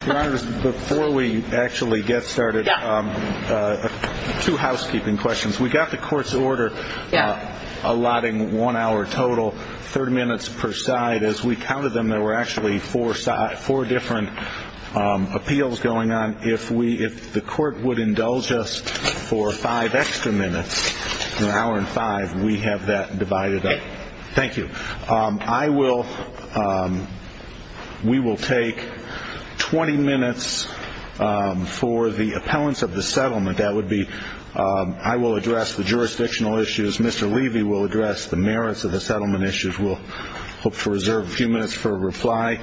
Before we actually get started, two housekeeping questions. We got the court's order allotting one hour total, 30 minutes per side. As we counted them, there were actually four different appeals going on. If the court would indulge us for five extra minutes, an hour and five, we have that divided up. Thank you. We will take 20 minutes for the appellants of the settlement. I will address the jurisdictional issues. Mr. Levy will address the merits of the settlement issues. We'll hope to reserve a few minutes for a reply.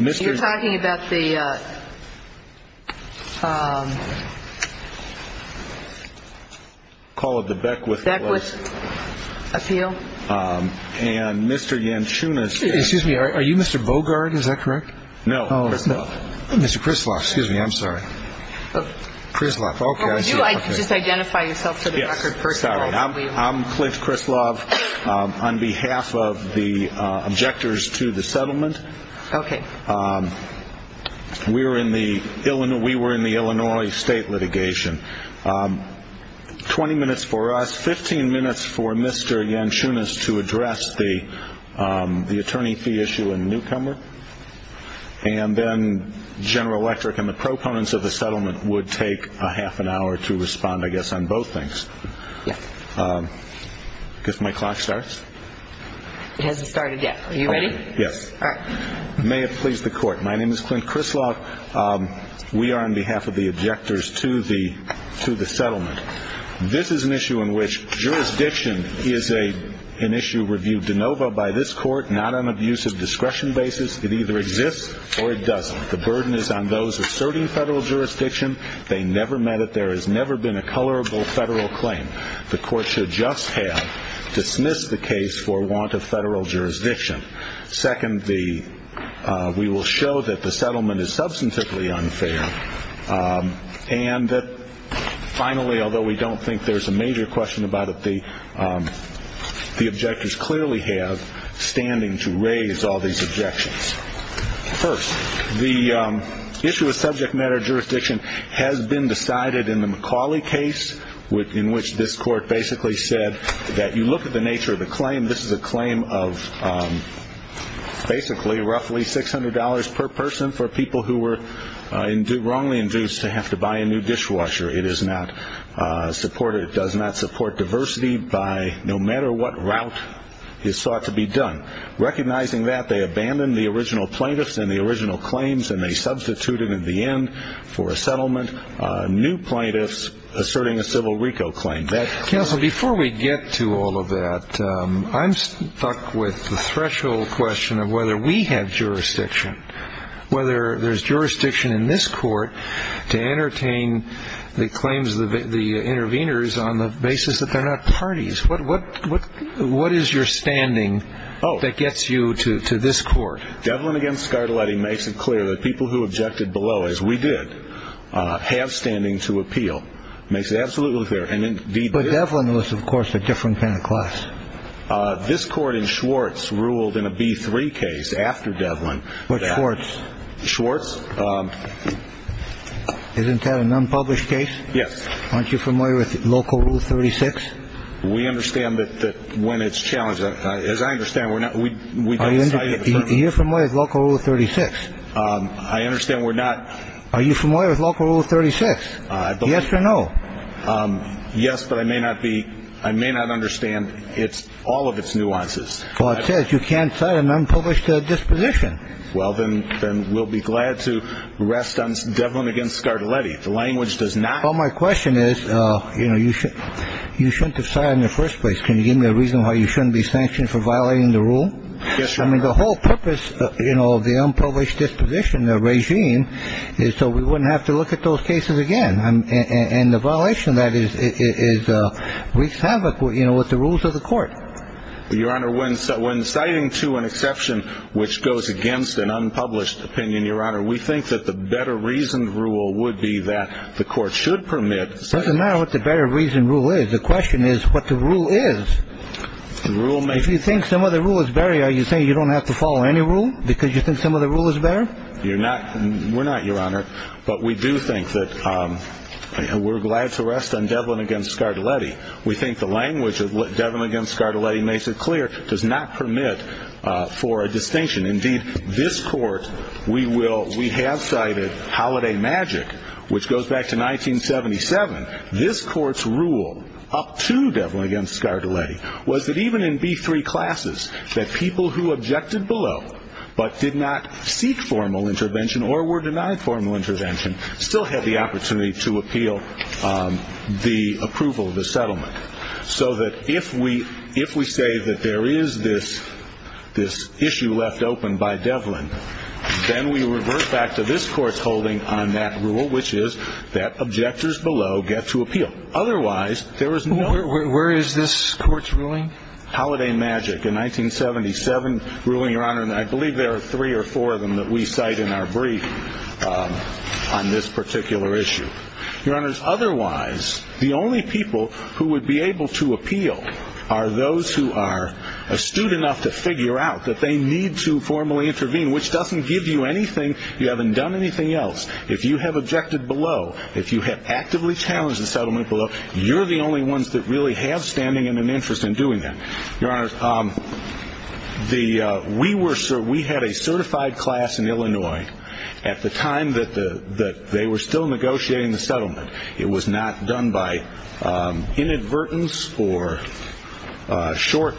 You're talking about the... Call it the Beckwith Appeal. And Mr. Yanchunas... Excuse me, are you Mr. Bogart, is that correct? No. Mr. Krislav, excuse me, I'm sorry. Krislav, okay. Could you just identify yourself for the record? Yes. I guess my clock starts? It hasn't started yet. Are you ready? Yes. All right. May it please the court. My name is Clint Krislav. We are on behalf of the objectors to the settlement. This is an issue in which jurisdiction is an issue reviewed de novo by this court, not on an abuse of discretion basis. It either exists or it doesn't. The burden is on those asserting federal jurisdiction. They never met it. There has never been a colorable federal claim. The court should just have dismissed the case for want of federal jurisdiction. Second, we will show that the settlement is substantively unfair and that finally, although we don't think there's a major question about it, the objectors clearly have standing to raise all these objections. First, the issue of subject matter jurisdiction has been decided in the McCauley case in which this court basically said that you look at the nature of the claim, this is a claim of basically roughly $600 per person for people who were wrongly induced to have to buy a new dishwasher. It does not support diversity no matter what route is sought to be done. Recognizing that, they abandoned the original plaintiffs and the original claims and they substituted in the end for a settlement new plaintiffs asserting a civil RICO claim. Counsel, before we get to all of that, I'm stuck with the threshold question of whether we have jurisdiction. Whether there's jurisdiction in this court to entertain the claims of the interveners on the basis that they're not parties. What is your standing that gets you to this court? Devlin against Scardelletti makes it clear that people who objected below, as we did, have standing to appeal. Makes it absolutely clear. But Devlin was, of course, a different kind of class. This court in Schwartz ruled in a B3 case after Devlin. Which Schwartz? Schwartz. Isn't that an unpublished case? Yes. Aren't you familiar with local rule 36? We understand that when it's challenged, as I understand, we don't cite it. You're familiar with local rule 36? I understand we're not. Are you familiar with local rule 36? Yes or no? Yes, but I may not be. I may not understand all of its nuances. Well, it says you can't cite an unpublished disposition. Well, then we'll be glad to rest on Devlin against Scardelletti. The language does not. Well, my question is, you know, you shouldn't have cited in the first place. Can you give me a reason why you shouldn't be sanctioned for violating the rule? I mean, the whole purpose of the unpublished disposition, the regime, is so we wouldn't have to look at those cases again. And the violation of that is wreaks havoc with the rules of the court. Your Honor, when citing to an exception which goes against an unpublished opinion, Your Honor, we think that the better reasoned rule would be that the court should permit. It doesn't matter what the better reasoned rule is. The question is what the rule is. If you think some of the rule is better, are you saying you don't have to follow any rule because you think some of the rule is better? You're not. We're not, Your Honor. But we do think that we're glad to rest on Devlin against Scardelletti. We think the language of Devlin against Scardelletti makes it clear does not permit for a distinction. Indeed, this court, we will we have cited Holiday Magic, which goes back to 1977. This court's rule up to Devlin against Scardelletti was that even in B3 classes, that people who objected below but did not seek formal intervention or were denied formal intervention still had the opportunity to appeal the approval of the settlement. So that if we say that there is this issue left open by Devlin, then we revert back to this court's holding on that rule, which is that objectors below get to appeal. Otherwise, there is no- Where is this court's ruling? Holiday Magic, a 1977 ruling, Your Honor. And I believe there are three or four of them that we cite in our brief on this particular issue. Your Honors, otherwise, the only people who would be able to appeal are those who are astute enough to figure out that they need to formally intervene, which doesn't give you anything. You haven't done anything else. If you have objected below, if you have actively challenged the settlement below, you're the only ones that really have standing and an interest in doing that. Your Honors, we had a certified class in Illinois at the time that they were still negotiating the settlement. It was not done by inadvertence or short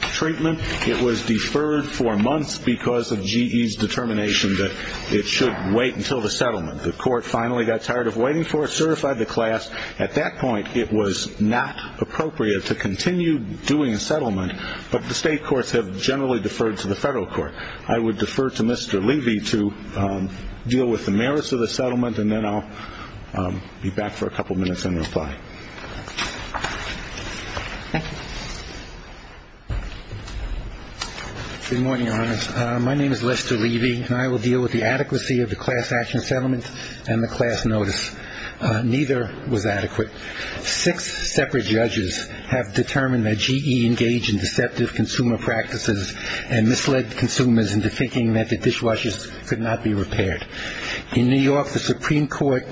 treatment. It was deferred for months because of GE's determination that it should wait until the settlement. The court finally got tired of waiting for it, certified the class. At that point, it was not appropriate to continue doing a settlement, but the state courts have generally deferred to the federal court. I would defer to Mr. Levy to deal with the merits of the settlement, and then I'll be back for a couple minutes and reply. Thank you. Good morning, Your Honors. My name is Lester Levy, and I will deal with the adequacy of the class action settlement and the class notice. Neither was adequate. Six separate judges have determined that GE engaged in deceptive consumer practices and misled consumers into thinking that the dishwashers could not be repaired. In New York, the Supreme Court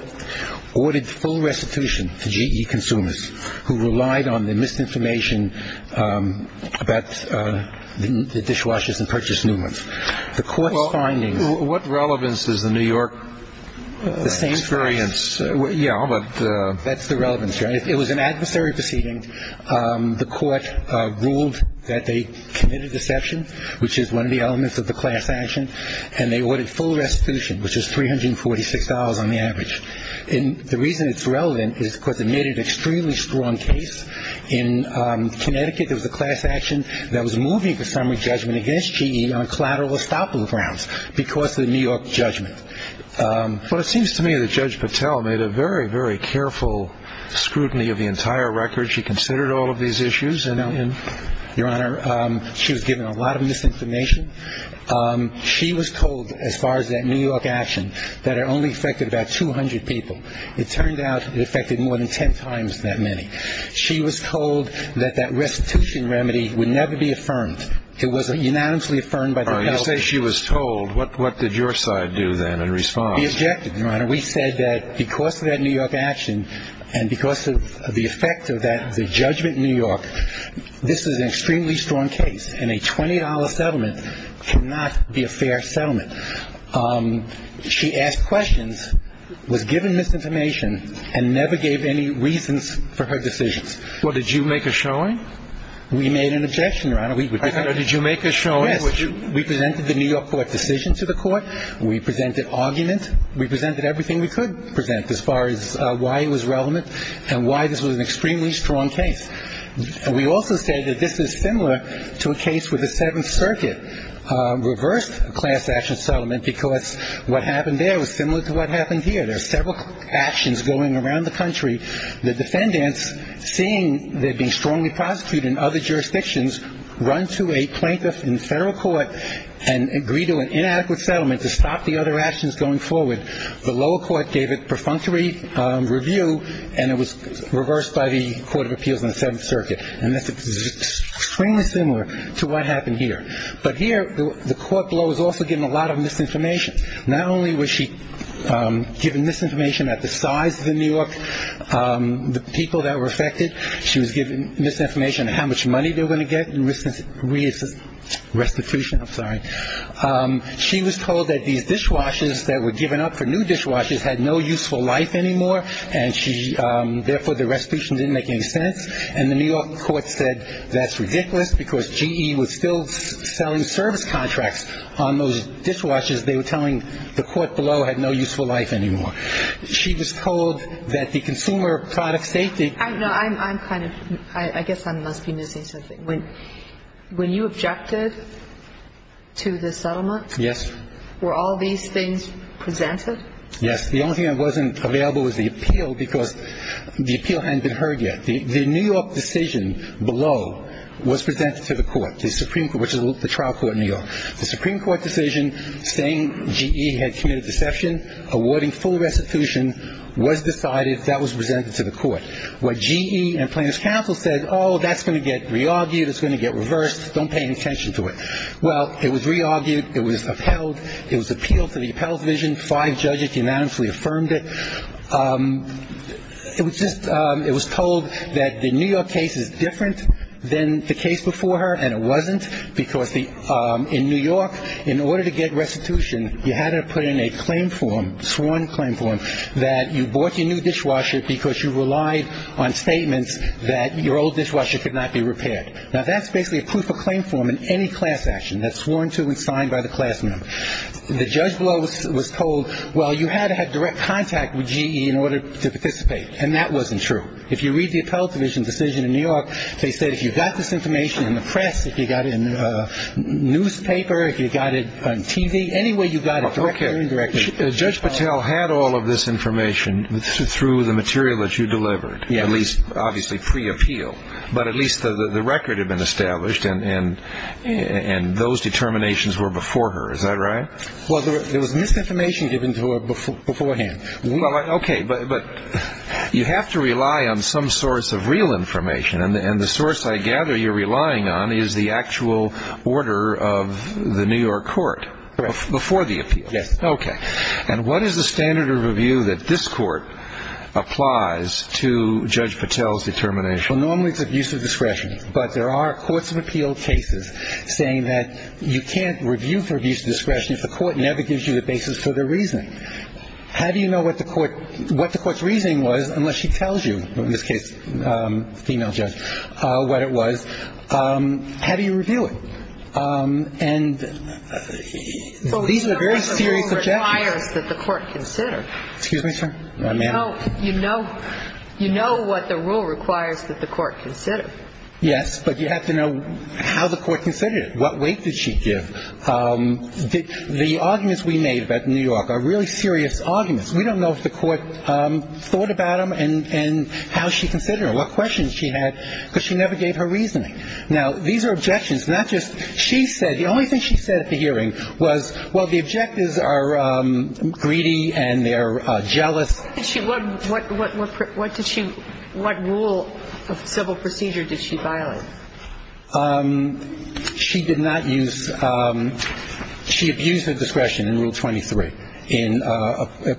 ordered full restitution to GE consumers who relied on the misinformation about the dishwashers and purchased new ones. The court's findings – Well, what relevance does the New York experience – The same – Yeah, but – That's the relevance, right? It was an adversary proceeding. The court ruled that they committed deception, which is one of the elements of the class action, and they ordered full restitution, which is $346 on the average. And the reason it's relevant is because it made an extremely strong case. In Connecticut, there was a class action that was moving the summary judgment against GE on collateral estoppel grounds because of the New York judgment. Well, it seems to me that Judge Patel made a very, very careful scrutiny of the entire record. She considered all of these issues, and, Your Honor, she was given a lot of misinformation. She was told, as far as that New York action, that it only affected about 200 people. It turned out it affected more than ten times that many. She was told that that restitution remedy would never be affirmed. It was unanimously affirmed by the health – You say she was told. What did your side do then in response? We objected, Your Honor. We said that because of that New York action and because of the effect of that judgment in New York, this is an extremely strong case, and a $20 settlement cannot be a fair settlement. She asked questions, was given misinformation, and never gave any reasons for her decisions. Well, did you make a showing? We made an objection, Your Honor. Did you make a showing? Yes. We presented the New York court decision to the court. We presented argument. We presented everything we could present as far as why it was relevant and why this was an extremely strong case. We also say that this is similar to a case where the Seventh Circuit reversed a class action settlement because what happened there was similar to what happened here. There are several actions going around the country. The defendants, seeing they're being strongly prosecuted in other jurisdictions, run to a plaintiff in federal court and agree to an inadequate settlement to stop the other actions going forward. The lower court gave a perfunctory review, and it was reversed by the Court of Appeals in the Seventh Circuit. And this is extremely similar to what happened here. But here, the court below was also given a lot of misinformation. Not only was she given misinformation at the size of the New York people that were affected, she was given misinformation at how much money they were going to get in restitution. She was told that these dishwashers that were given up for new dishwashers had no useful life anymore, and therefore the restitution didn't make any sense. And the New York court said that's ridiculous because GE was still selling service contracts on those dishwashers. They were telling the court below had no useful life anymore. She was told that the consumer product safety. No, I'm kind of, I guess I must be missing something. When you objected to the settlement. Yes. Were all these things presented? Yes. The only thing that wasn't available was the appeal because the appeal hadn't been heard yet. The New York decision below was presented to the court, which is the trial court in New York. The Supreme Court decision saying GE had committed deception, awarding full restitution, was decided, that was presented to the court. What GE and plaintiff's counsel said, oh, that's going to get re-argued. It's going to get reversed. Don't pay any attention to it. Well, it was re-argued. It was upheld. It was appealed to the appellate division. Five judges unanimously affirmed it. It was just, it was told that the New York case is different than the case before her, and it wasn't because in New York, in order to get restitution, you had to put in a claim form, sworn claim form, that you bought your new dishwasher because you relied on statements that your old dishwasher could not be repaired. Now, that's basically a proof of claim form in any class action. That's sworn to and signed by the class member. The judge below was told, well, you had to have direct contact with GE in order to participate, and that wasn't true. If you read the appellate division decision in New York, they said if you got this information in the press, if you got it in the newspaper, if you got it on TV, anywhere you got it. Okay. Judge Patel had all of this information through the material that you delivered, at least obviously pre-appeal, but at least the record had been established and those determinations were before her. Is that right? Well, there was misinformation given to her beforehand. Okay. But you have to rely on some source of real information, and the source I gather you're relying on is the actual order of the New York court before the appeal. Yes. Okay. And what is the standard of review that this court applies to Judge Patel's determination? Well, normally it's abuse of discretion, but there are courts of appeal cases saying that you can't review for abuse of discretion if the court never gives you the basis for their reasoning. How do you know what the court's reasoning was unless she tells you, in this case, the female judge, what it was? How do you review it? So you know what the rule requires that the court consider. Excuse me, sir? You know what the rule requires that the court consider. Yes, but you have to know how the court considered it. What weight did she give? The arguments we made about New York are really serious arguments. We don't know if the court thought about them and how she considered them, what questions she had, because she never gave her reasoning. Now, these are objections, not just she said. The only thing she said at the hearing was, well, the objectives are greedy and they're jealous. What did she what rule of civil procedure did she violate? She did not use she abused her discretion in Rule 23 in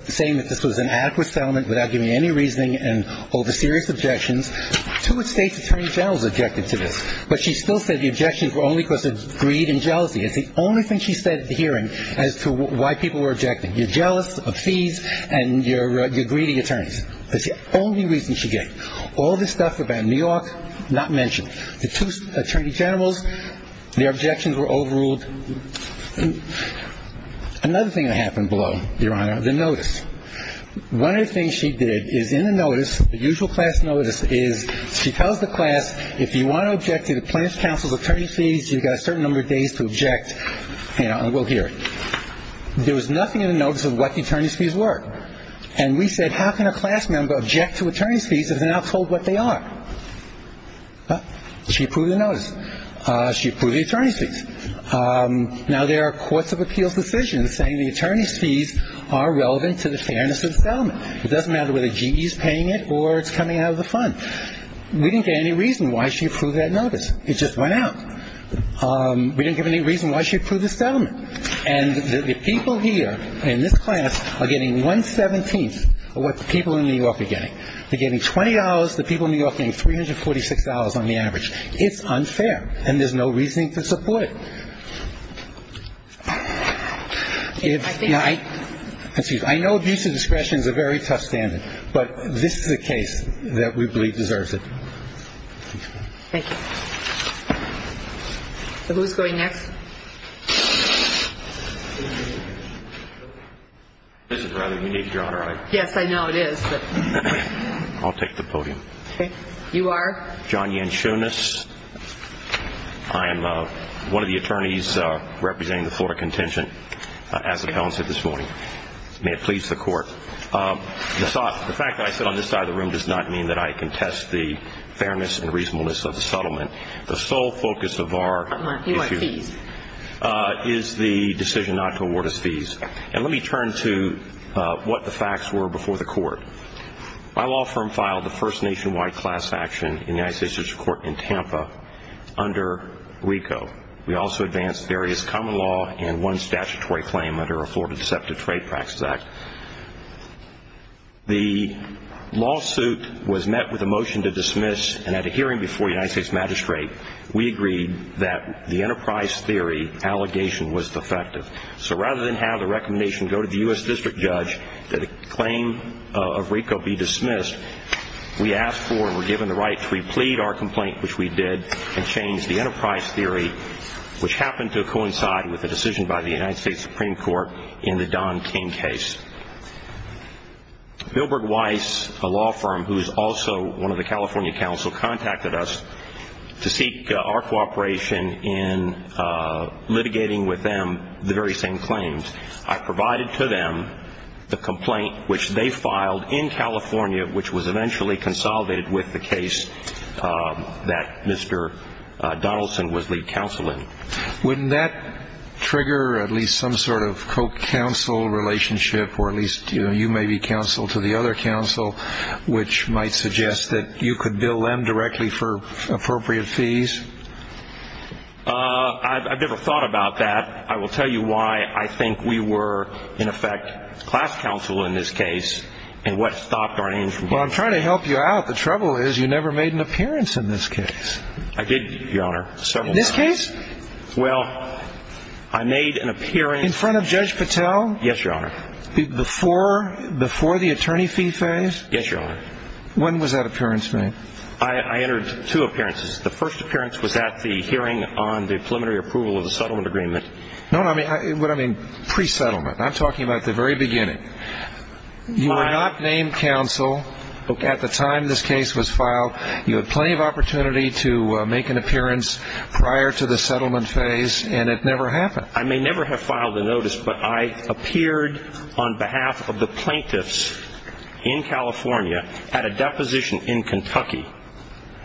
saying that this was an adequate settlement without giving any reasoning and over serious objections. Two state's attorney generals objected to this, but she still said the objections were only because of greed and jealousy. It's the only thing she said at the hearing as to why people were objecting. You're jealous of fees and you're greedy attorneys. That's the only reason she gave. All this stuff about New York, not mentioned. The two attorney generals, their objections were overruled. Another thing that happened below, Your Honor, the notice. One of the things she did is in the notice, the usual class notice, is she tells the class, if you want to object to the plaintiff's counsel's attorney's fees, you've got a certain number of days to object. And we'll hear it. There was nothing in the notice of what the attorney's fees were. And we said, how can a class member object to attorney's fees if they're not told what they are? She approved the attorney's fees. Now, there are courts of appeals decisions saying the attorney's fees are relevant to the fairness of the settlement. It doesn't matter whether GE is paying it or it's coming out of the fund. We didn't get any reason why she approved that notice. It just went out. We didn't give any reason why she approved the settlement. And the people here in this class are getting one-seventeenth of what the people in New York are getting. They're getting $20. The people in New York are getting $346 on the average. It's unfair, and there's no reason to support it. I know abuse of discretion is a very tough standard, but this is a case that we believe deserves it. Thank you. Who's going next? This is rather unique, Your Honor. Yes, I know it is. I'll take the podium. Okay. You are? John Yanchonis. I am one of the attorneys representing the Florida Contingent, as the felon said this morning. May it please the Court. The fact that I sit on this side of the room does not mean that I contest the fairness and reasonableness of the settlement. The sole focus of our issue is the decision not to award us fees. And let me turn to what the facts were before the Court. My law firm filed the first nationwide class action in the United States District Court in Tampa under RICO. We also advanced various common law and one statutory claim under a Florida Deceptive Trade Practice Act. The lawsuit was met with a motion to dismiss, and at a hearing before the United States Magistrate, we agreed that the enterprise theory allegation was defective. So rather than have the recommendation go to the U.S. District Judge that a claim of RICO be dismissed, we asked for and were given the right to replead our complaint, which we did, and change the enterprise theory, which happened to coincide with a decision by the United States Supreme Court in the Don King case. Bilberg Weiss, a law firm who is also one of the California counsel, contacted us to seek our cooperation in litigating with them the very same claims. I provided to them the complaint which they filed in California, which was eventually consolidated with the case that Mr. Donaldson was lead counsel in. Wouldn't that trigger at least some sort of co-counsel relationship, or at least you may be counsel to the other counsel, which might suggest that you could bill them directly for appropriate fees? I've never thought about that. I will tell you why I think we were, in effect, class counsel in this case, and what stopped our name from going up. Well, I'm trying to help you out. The trouble is you never made an appearance in this case. I did, Your Honor, several times. This case? Well, I made an appearance. In front of Judge Patel? Yes, Your Honor. Before the attorney fee phase? Yes, Your Honor. When was that appearance made? I entered two appearances. The first appearance was at the hearing on the preliminary approval of the settlement agreement. No, what I mean, pre-settlement. I'm talking about the very beginning. You were not named counsel at the time this case was filed. You had plenty of opportunity to make an appearance prior to the settlement phase, and it never happened. I may never have filed a notice, but I appeared on behalf of the plaintiffs in California at a deposition in Kentucky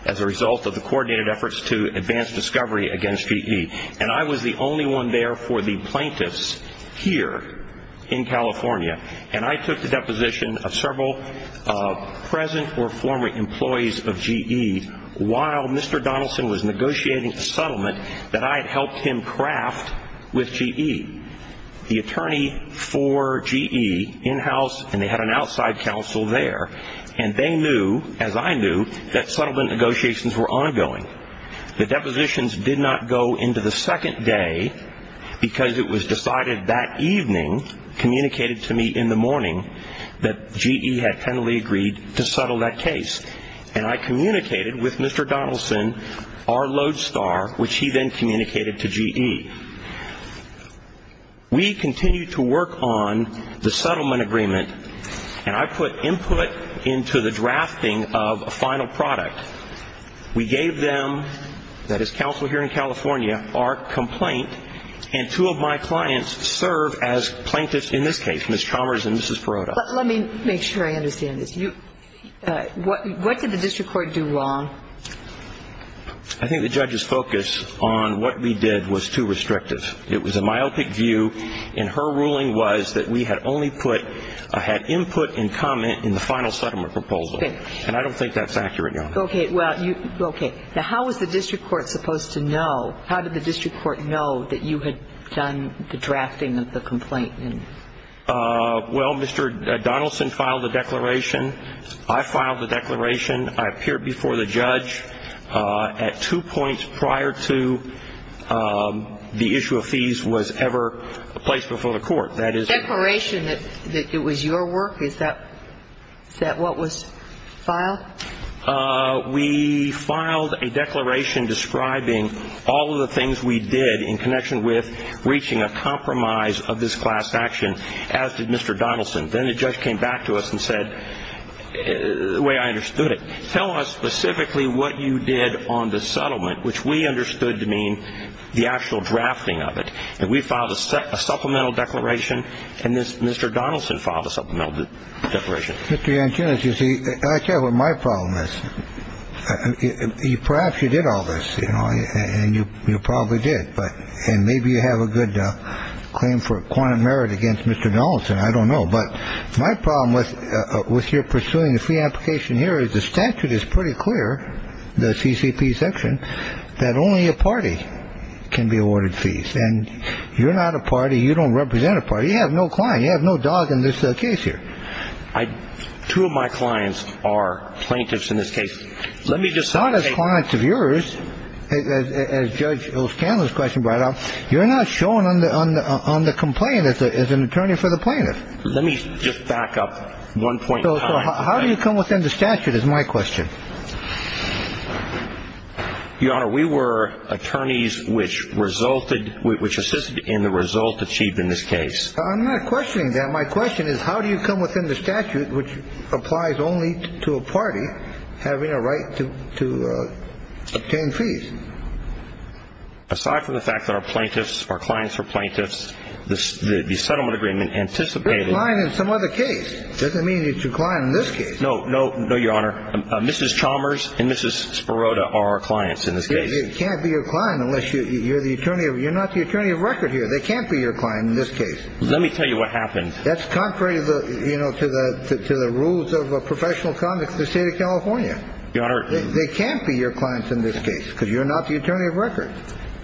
as a result of the coordinated efforts to advance discovery against V.E., and I was the only one there for the plaintiffs here in California, and I took the deposition of several present or former employees of V.E. while Mr. Donaldson was negotiating a settlement that I had helped him craft with V.E. The attorney for V.E. in-house, and they had an outside counsel there, and they knew, as I knew, that settlement negotiations were ongoing. The depositions did not go into the second day because it was decided that evening, communicated to me in the morning, that V.E. had kindly agreed to settle that case, and I communicated with Mr. Donaldson, our lodestar, which he then communicated to V.E. We continued to work on the settlement agreement, and I put input into the drafting of a final product. We gave them, that is counsel here in California, our complaint, and two of my clients serve as plaintiffs in this case, Ms. Chalmers and Mrs. Perotta. But let me make sure I understand this. What did the district court do wrong? I think the judge's focus on what we did was too restrictive. It was a myopic view, and her ruling was that we had only put or had input and comment in the final settlement proposal, and I don't think that's accurate, Your Honor. Okay. Well, okay. Now, how was the district court supposed to know? How did the district court know that you had done the drafting of the complaint? Well, Mr. Donaldson filed the declaration. I filed the declaration. I appeared before the judge at two points prior to the issue of fees was ever placed before the court. Declaration that it was your work? Is that what was filed? We filed a declaration describing all of the things we did in connection with reaching a compromise of this class action, as did Mr. Donaldson. Then the judge came back to us and said, the way I understood it, tell us specifically what you did on the settlement, which we understood to mean the actual drafting of it. And we filed a supplemental declaration. And Mr. Donaldson filed a supplemental declaration. Mr. Antonis, you see, I tell you what my problem is. Perhaps you did all this, you know, and you probably did. And maybe you have a good claim for a quantum merit against Mr. Donaldson. I don't know. But my problem with your pursuing the fee application here is the statute is pretty clear, the CCP section, that only a party can be awarded fees. And you're not a party. You don't represent a party. You have no client. You have no dog in this case here. I two of my clients are plaintiffs in this case. Let me just not as clients of yours. As Judge O'Scanlon's question brought up, you're not showing on the on the complaint as an attorney for the plaintiff. Let me just back up one point. How do you come within the statute is my question. Your Honor, we were attorneys which resulted which assisted in the result achieved in this case. I'm not questioning that. My question is, how do you come within the statute which applies only to a party having a right to obtain fees? Aside from the fact that our plaintiffs, our clients are plaintiffs, the settlement agreement anticipated line in some other case. Doesn't mean it's your client in this case. No, no, no, Your Honor. Mrs. Chalmers and Mrs. Sparota are our clients in this case. It can't be your client unless you're the attorney. You're not the attorney of record here. They can't be your client in this case. Let me tell you what happened. That's contrary to the, you know, to the to the rules of professional conduct, the state of California. Your Honor, they can't be your clients in this case because you're not the attorney of record.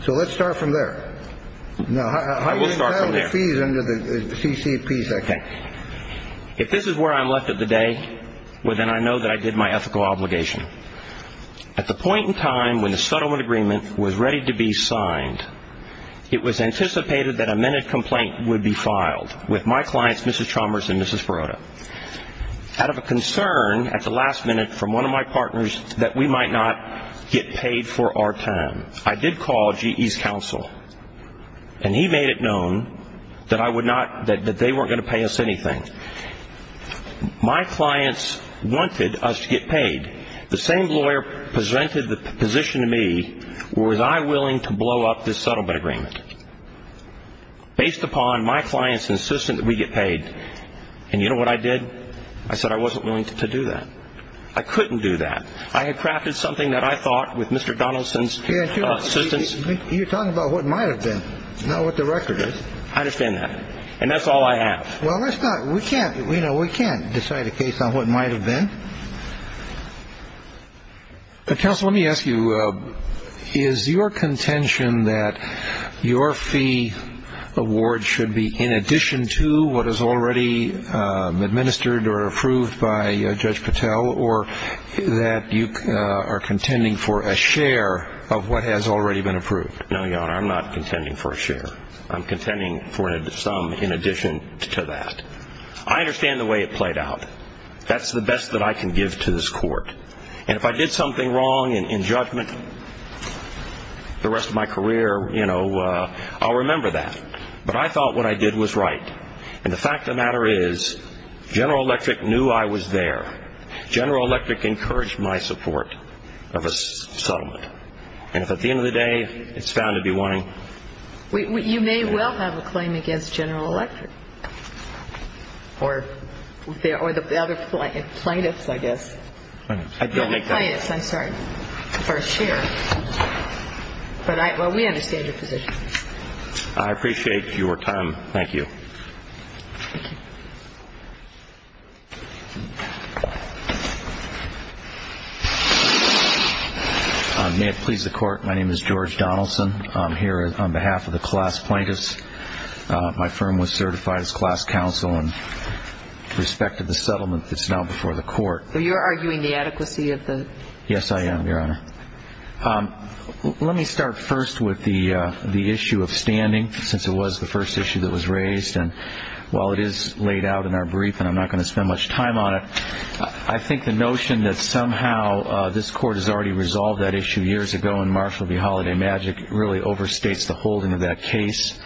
So let's start from there. No, I will start from there. Fees under the CCP. OK. If this is where I'm left at the day, well, then I know that I did my ethical obligation at the point in time when the settlement agreement was ready to be signed. It was anticipated that a minute complaint would be filed with my clients, Mrs. Chalmers and Mrs. Sparota. Out of a concern at the last minute from one of my partners that we might not get paid for our time, I did call GE's counsel. And he made it known that I would not, that they weren't going to pay us anything. My clients wanted us to get paid. The same lawyer presented the position to me, was I willing to blow up this settlement agreement? Based upon my clients insistent that we get paid. And you know what I did? I said I wasn't willing to do that. I couldn't do that. I had crafted something that I thought with Mr. Donaldson's assistance. You're talking about what might have been not what the record is. I understand that. And that's all I have. Well, let's not we can't we know we can't decide a case on what might have been. Counsel, let me ask you, is your contention that your fee award should be in addition to what is already administered or approved by Judge Patel, or that you are contending for a share of what has already been approved? No, Your Honor, I'm not contending for a share. I'm contending for some in addition to that. I understand the way it played out. That's the best that I can give to this court. And if I did something wrong in judgment the rest of my career, you know, I'll remember that. But I thought what I did was right. And the fact of the matter is General Electric knew I was there. General Electric encouraged my support of a settlement. And if at the end of the day it's found to be wanting. You may well have a claim against General Electric or the other plaintiffs, I guess. I don't think so. No, the plaintiffs, I'm sorry, for a share. But we understand your position. I appreciate your time. Thank you. Thank you. May it please the Court, my name is George Donaldson. I'm here on behalf of the class plaintiffs. My firm was certified as class counsel in respect to the settlement that's now before the court. So you're arguing the adequacy of the? Yes, I am, Your Honor. Let me start first with the issue of standing since it was the first issue that was raised. And while it is laid out in our brief and I'm not going to spend much time on it, I think the notion that somehow this court has already resolved that issue years ago and Marshall v. Holiday Magic really overstates the holding of that case.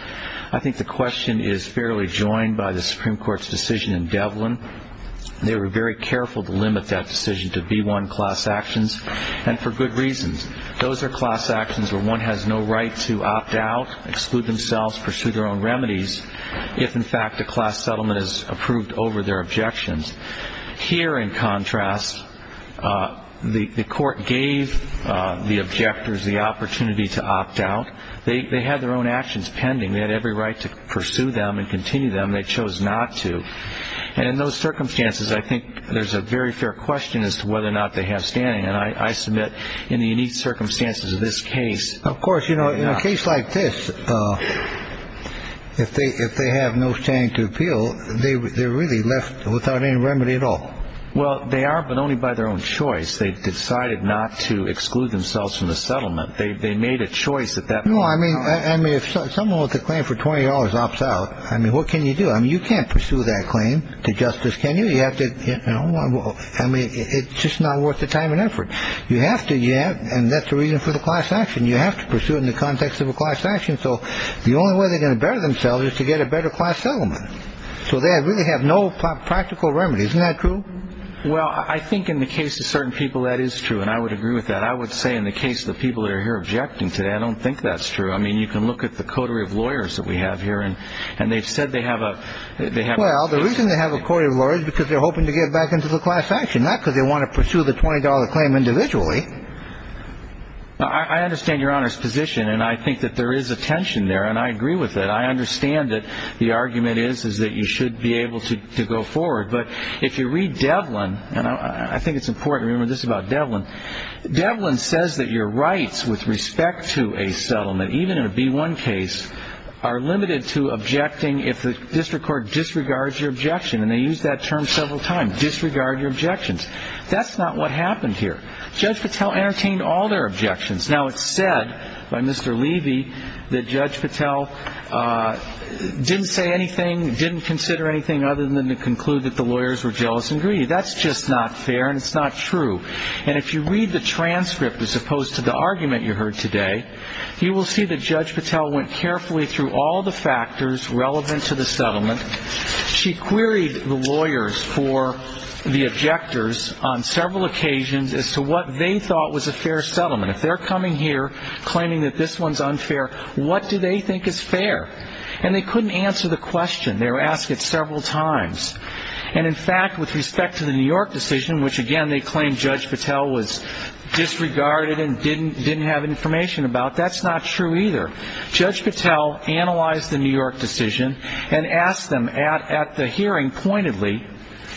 I think the question is fairly joined by the Supreme Court's decision in Devlin. They were very careful to limit that decision to B-1 class actions and for good reasons. Those are class actions where one has no right to opt out, exclude themselves, pursue their own remedies, if in fact a class settlement is approved over their objections. Here, in contrast, the court gave the objectors the opportunity to opt out. They had their own actions pending. They had every right to pursue them and continue them. They chose not to. And in those circumstances, I think there's a very fair question as to whether or not they have standing. And I submit in the unique circumstances of this case. Of course. Because, you know, in a case like this, if they have no standing to appeal, they're really left without any remedy at all. Well, they are, but only by their own choice. They've decided not to exclude themselves from the settlement. They made a choice at that point. No, I mean, if someone with a claim for $20 opts out, I mean, what can you do? I mean, you can't pursue that claim to justice, can you? I mean, it's just not worth the time and effort. You have to. And that's the reason for the class action. You have to pursue it in the context of a class action. So the only way they're going to better themselves is to get a better class settlement. So they really have no practical remedy. Isn't that true? Well, I think in the case of certain people that is true, and I would agree with that. I would say in the case of the people that are here objecting today, I don't think that's true. I mean, you can look at the coterie of lawyers that we have here, and they've said they have a. Well, the reason they have a coterie of lawyers is because they're hoping to get back into the class action, not because they want to pursue the $20 claim individually. I understand Your Honor's position, and I think that there is a tension there, and I agree with it. I understand that the argument is that you should be able to go forward. But if you read Devlin, and I think it's important to remember this about Devlin, Devlin says that your rights with respect to a settlement, even in a B-1 case, are limited to objecting if the district court disregards your objection. And they use that term several times, disregard your objections. That's not what happened here. Judge Patel entertained all their objections. Now, it's said by Mr. Levy that Judge Patel didn't say anything, didn't consider anything other than to conclude that the lawyers were jealous and greedy. That's just not fair, and it's not true. And if you read the transcript as opposed to the argument you heard today, you will see that Judge Patel went carefully through all the factors relevant to the settlement. She queried the lawyers for the objectors on several occasions as to what they thought was a fair settlement. If they're coming here claiming that this one's unfair, what do they think is fair? And they couldn't answer the question. They were asked it several times. And, in fact, with respect to the New York decision, which, again, they claimed Judge Patel was disregarded and didn't have information about, that's not true either. Judge Patel analyzed the New York decision and asked them at the hearing pointedly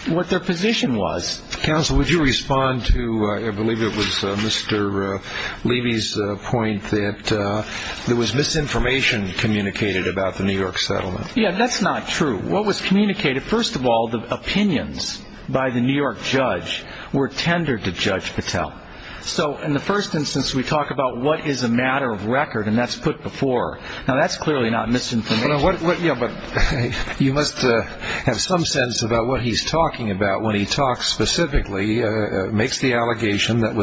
what their position was. Counsel, would you respond to, I believe it was Mr. Levy's point, that there was misinformation communicated about the New York settlement? Yeah, that's not true. What was communicated, first of all, the opinions by the New York judge were tendered to Judge Patel. So in the first instance, we talk about what is a matter of record, and that's put before. Now, that's clearly not misinformation. Yeah, but you must have some sense about what he's talking about when he talks specifically, makes the allegation that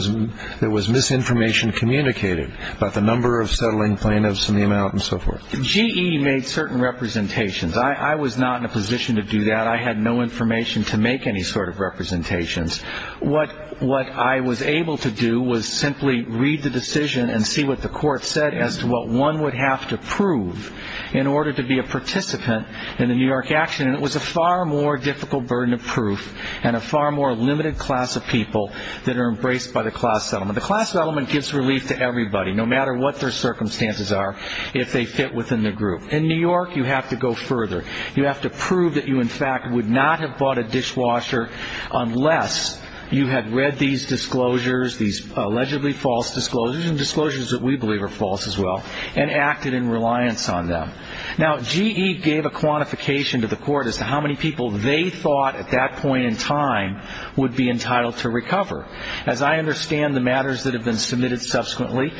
there was misinformation communicated about the number of settling plaintiffs and the amount and so forth. GE made certain representations. I was not in a position to do that. I had no information to make any sort of representations. What I was able to do was simply read the decision and see what the court said as to what one would have to prove in order to be a participant in the New York action, and it was a far more difficult burden of proof and a far more limited class of people that are embraced by the class settlement. The class settlement gives relief to everybody, no matter what their circumstances are, if they fit within the group. In New York, you have to go further. You have to prove that you, in fact, would not have bought a dishwasher unless you had read these disclosures, these allegedly false disclosures, and disclosures that we believe are false as well, and acted in reliance on them. Now, GE gave a quantification to the court as to how many people they thought at that point in time would be entitled to recover. As I understand the matters that have been submitted subsequently,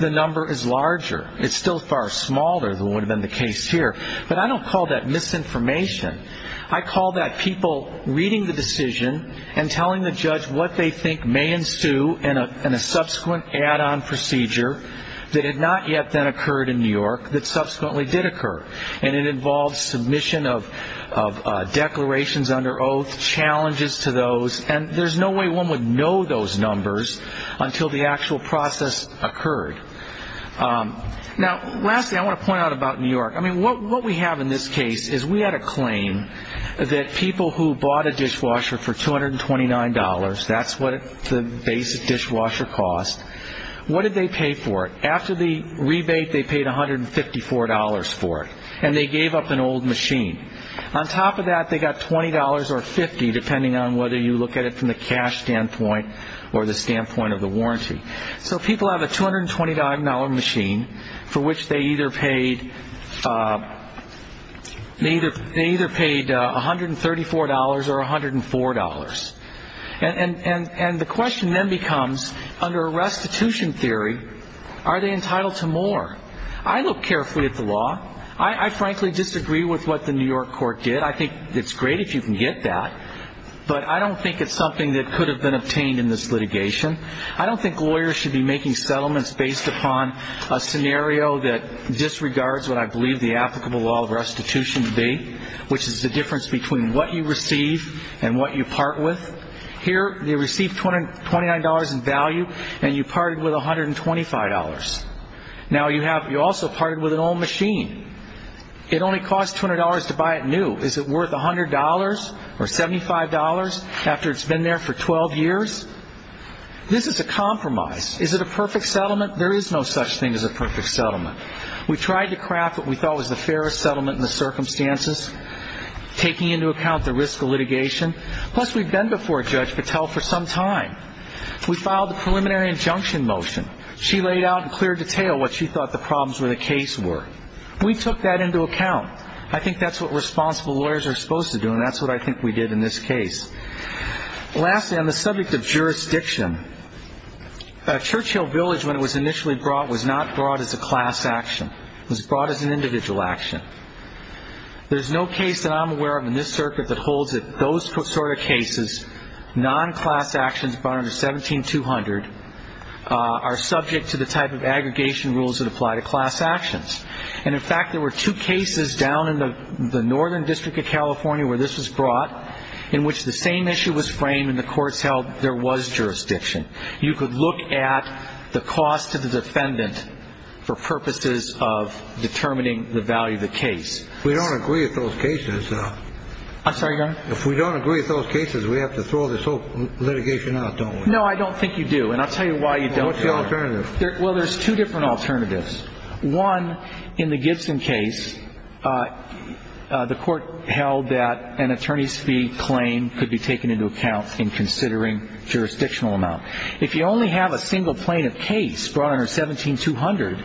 the number is larger. It's still far smaller than would have been the case here. But I don't call that misinformation. I call that people reading the decision and telling the judge what they think may ensue in a subsequent add-on procedure that had not yet then occurred in New York, that subsequently did occur, and it involves submission of declarations under oath, challenges to those, and there's no way one would know those numbers until the actual process occurred. Now, lastly, I want to point out about New York. I mean, what we have in this case is we had a claim that people who bought a dishwasher for $229, that's what the basic dishwasher cost, what did they pay for it? After the rebate, they paid $154 for it, and they gave up an old machine. On top of that, they got $20 or $50, depending on whether you look at it from the cash standpoint or the standpoint of the warranty. So people have a $229 machine for which they either paid $134 or $104. And the question then becomes, under a restitution theory, are they entitled to more? I look carefully at the law. I frankly disagree with what the New York court did. I think it's great if you can get that, but I don't think it's something that could have been obtained in this litigation. I don't think lawyers should be making settlements based upon a scenario that disregards what I believe the applicable law of restitution to be, which is the difference between what you receive and what you part with. Here, they received $229 in value, and you parted with $125. Now, you also parted with an old machine. It only cost $200 to buy it new. Is it worth $100 or $75 after it's been there for 12 years? This is a compromise. Is it a perfect settlement? There is no such thing as a perfect settlement. We tried to craft what we thought was the fairest settlement in the circumstances, taking into account the risk of litigation. Plus, we've been before Judge Patel for some time. We filed a preliminary injunction motion. She laid out in clear detail what she thought the problems with the case were. We took that into account. I think that's what responsible lawyers are supposed to do, and that's what I think we did in this case. Lastly, on the subject of jurisdiction, Churchill Village, when it was initially brought, was not brought as a class action. It was brought as an individual action. There's no case that I'm aware of in this circuit that holds that those sort of cases, non-class actions brought under 17-200, are subject to the type of aggregation rules that apply to class actions. And, in fact, there were two cases down in the Northern District of California where this was brought in which the same issue was framed and the courts held there was jurisdiction. You could look at the cost to the defendant for purposes of determining the value of the case. We don't agree with those cases. I'm sorry, Your Honor? If we don't agree with those cases, we have to throw this whole litigation out, don't we? No, I don't think you do, and I'll tell you why you don't. What's the alternative? Well, there's two different alternatives. One, in the Gibson case, the court held that an attorney's fee claim could be taken into account in considering jurisdictional amount. If you only have a single plaintiff case brought under 17-200,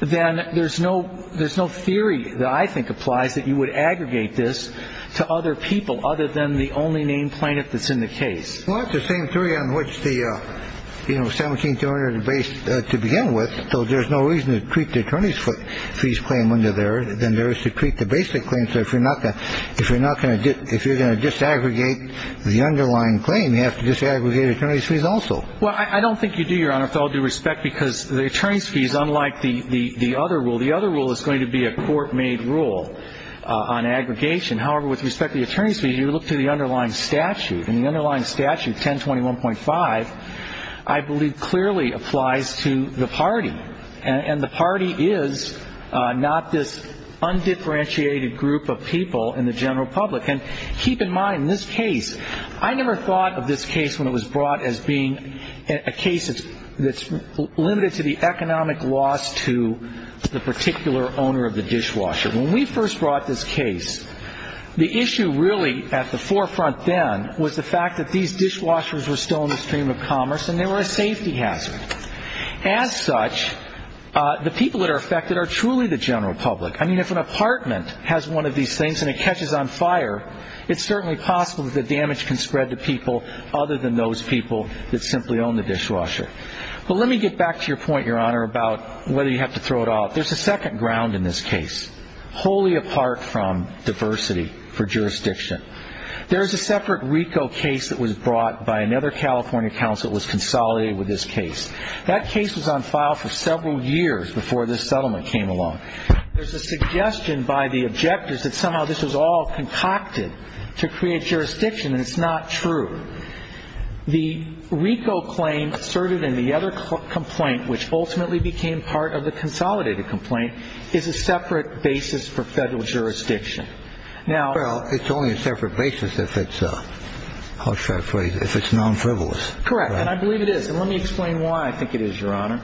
then there's no theory that I think applies that you would aggregate this to other people other than the only named plaintiff that's in the case. Well, it's the same theory on which the 17-200 is based to begin with, so there's no reason to treat the attorney's fees claim under there than there is to treat the basic claim. So if you're not going to do it, if you're going to disaggregate the underlying claim, you have to disaggregate attorney's fees also. Well, I don't think you do, Your Honor, with all due respect, because the attorney's fee is unlike the other rule. The other rule is going to be a court-made rule on aggregation. However, with respect to the attorney's fee, you look to the underlying statute, and the underlying statute, 1021.5, I believe clearly applies to the party, and the party is not this undifferentiated group of people in the general public. And keep in mind, this case, I never thought of this case when it was brought as being a case that's limited to the economic loss to the particular owner of the dishwasher. When we first brought this case, the issue really at the forefront then was the fact that these dishwashers were still in the stream of commerce, and they were a safety hazard. As such, the people that are affected are truly the general public. I mean, if an apartment has one of these things and it catches on fire, it's certainly possible that the damage can spread to people other than those people that simply own the dishwasher. But let me get back to your point, Your Honor, about whether you have to throw it out. There's a second ground in this case, wholly apart from diversity for jurisdiction. There is a separate RICO case that was brought by another California counsel that was consolidated with this case. That case was on file for several years before this settlement came along. There's a suggestion by the objectors that somehow this was all concocted to create jurisdiction, and it's not true. The RICO claim asserted in the other complaint, which ultimately became part of the consolidated complaint, is a separate basis for federal jurisdiction. Now ‑‑ Well, it's only a separate basis if it's ‑‑ how shall I put it? If it's nonfrivolous. Correct. And I believe it is. And let me explain why I think it is, Your Honor.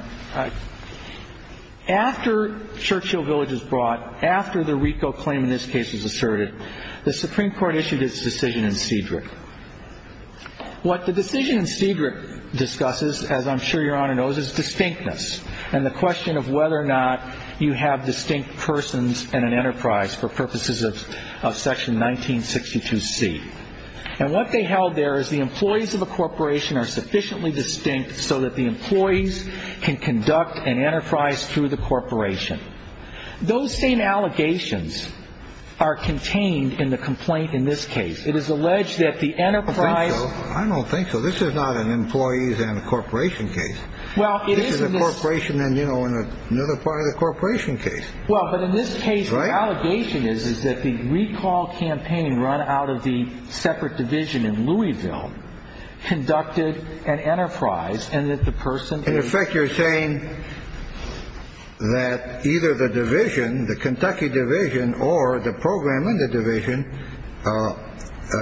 After Churchill Village was brought, after the RICO claim in this case was asserted, the Supreme Court issued its decision in Cedric. What the decision in Cedric discusses, as I'm sure Your Honor knows, is distinctness and the question of whether or not you have distinct persons in an enterprise for purposes of section 1962C. And what they held there is the employees of a corporation are sufficiently distinct so that the employees can conduct an enterprise through the corporation. Those same allegations are contained in the complaint in this case. It is alleged that the enterprise ‑‑ I don't think so. I don't think so. This is not an employees and a corporation case. Well, it is in this ‑‑ This is a corporation and, you know, another part of the corporation case. Well, but in this case, the allegation is that the recall campaign run out of the separate division in Louisville conducted an enterprise and that the person is ‑‑ either the division, the Kentucky division or the program in the division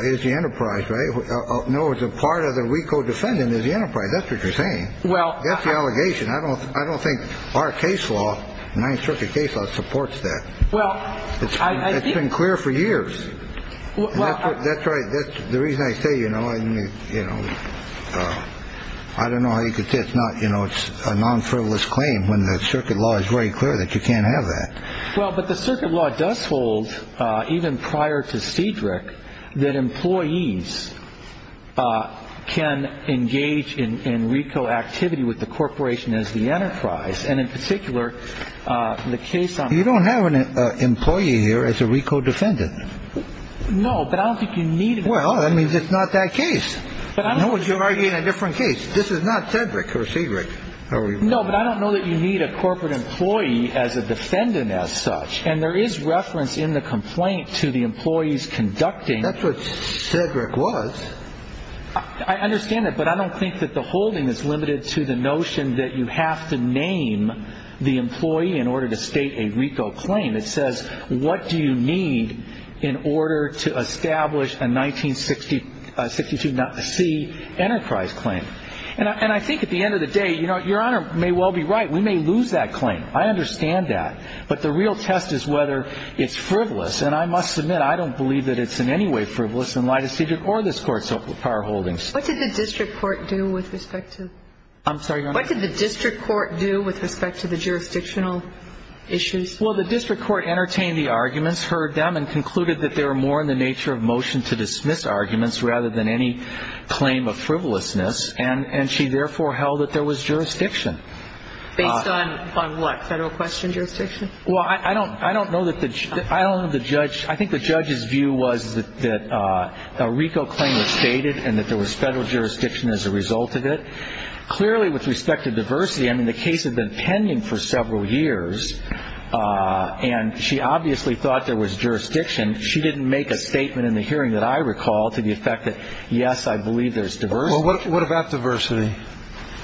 is the enterprise, right? No, it's a part of the RICO defendant is the enterprise. That's what you're saying. That's the allegation. I don't think our case law, Ninth Circuit case law, supports that. It's been clear for years. That's right. That's the reason I say, you know, I don't know how you could say it's not, you know, a non‑frivolous claim when the circuit law is very clear that you can't have that. Well, but the circuit law does hold, even prior to Cedric, that employees can engage in RICO activity with the corporation as the enterprise. And in particular, the case on ‑‑ You don't have an employee here as a RICO defendant. No, but I don't think you need ‑‑ Well, that means it's not that case. No, but you're arguing a different case. This is not Cedric or Cedric. No, but I don't know that you need a corporate employee as a defendant as such. And there is reference in the complaint to the employees conducting ‑‑ That's what Cedric was. I understand that, but I don't think that the holding is limited to the notion that you have to name the employee in order to state a RICO claim. It says, what do you need in order to establish a 1962C enterprise claim? And I think at the end of the day, you know, Your Honor may well be right. We may lose that claim. I understand that. But the real test is whether it's frivolous. And I must admit, I don't believe that it's in any way frivolous in light of Cedric or this Court's power holdings. What did the district court do with respect to ‑‑ I'm sorry, Your Honor. What did the district court do with respect to the jurisdictional issues? Well, the district court entertained the arguments, heard them, and concluded that they were more in the nature of motion to dismiss arguments rather than any claim of frivolousness. And she therefore held that there was jurisdiction. Based on what, federal question jurisdiction? Well, I don't know that the ‑‑ I don't know that the judge ‑‑ I think the judge's view was that a RICO claim was stated and that there was federal jurisdiction as a result of it. Clearly, with respect to diversity, I mean, the case had been pending for several years, and she obviously thought there was jurisdiction. She didn't make a statement in the hearing that I recall to the effect that, yes, I believe there's diversity. Well, what about diversity?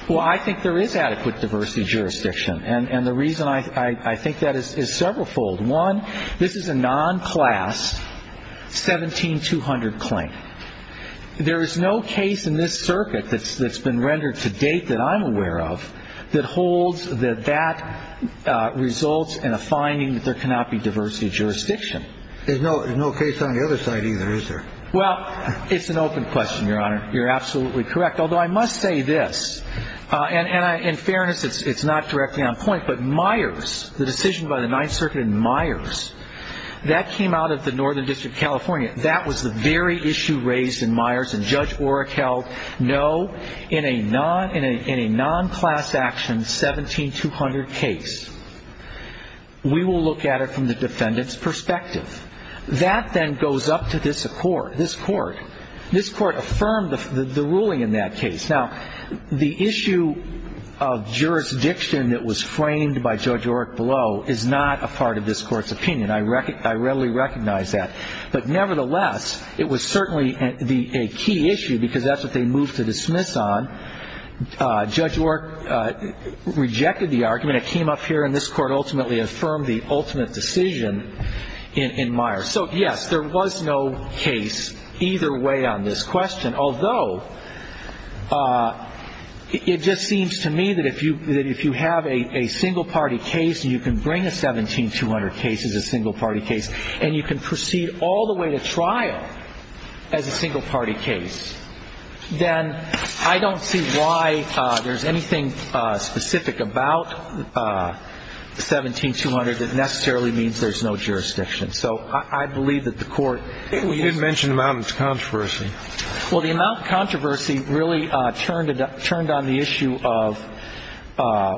Well, I think there is adequate diversity jurisdiction. And the reason I think that is severalfold. One, this is a nonclass 17200 claim. There is no case in this circuit that's been rendered to date that I'm aware of that holds that that results in a finding that there cannot be diversity jurisdiction. There's no case on the other side either, is there? Well, it's an open question, Your Honor. You're absolutely correct. Although I must say this, and in fairness, it's not directly on point, but Myers, the decision by the Ninth Circuit in Myers, that came out of the Northern District of California. That was the very issue raised in Myers. And Judge Oreck held, no, in a nonclass action 17200 case, we will look at it from the defendant's perspective. That then goes up to this court. This court affirmed the ruling in that case. Now, the issue of jurisdiction that was framed by Judge Oreck below is not a part of this court's opinion. I readily recognize that. But nevertheless, it was certainly a key issue because that's what they moved to dismiss on. Judge Oreck rejected the argument. It came up here, and this court ultimately affirmed the ultimate decision in Myers. So, yes, there was no case either way on this question, although it just seems to me that if you have a single-party case and you can bring a 17200 case as a single-party case and you can proceed all the way to trial as a single-party case, then I don't see why there's anything specific about 17200 that necessarily means there's no jurisdiction. So I believe that the court used it. You did mention the amount of controversy. Well, the amount of controversy really turned on the issue of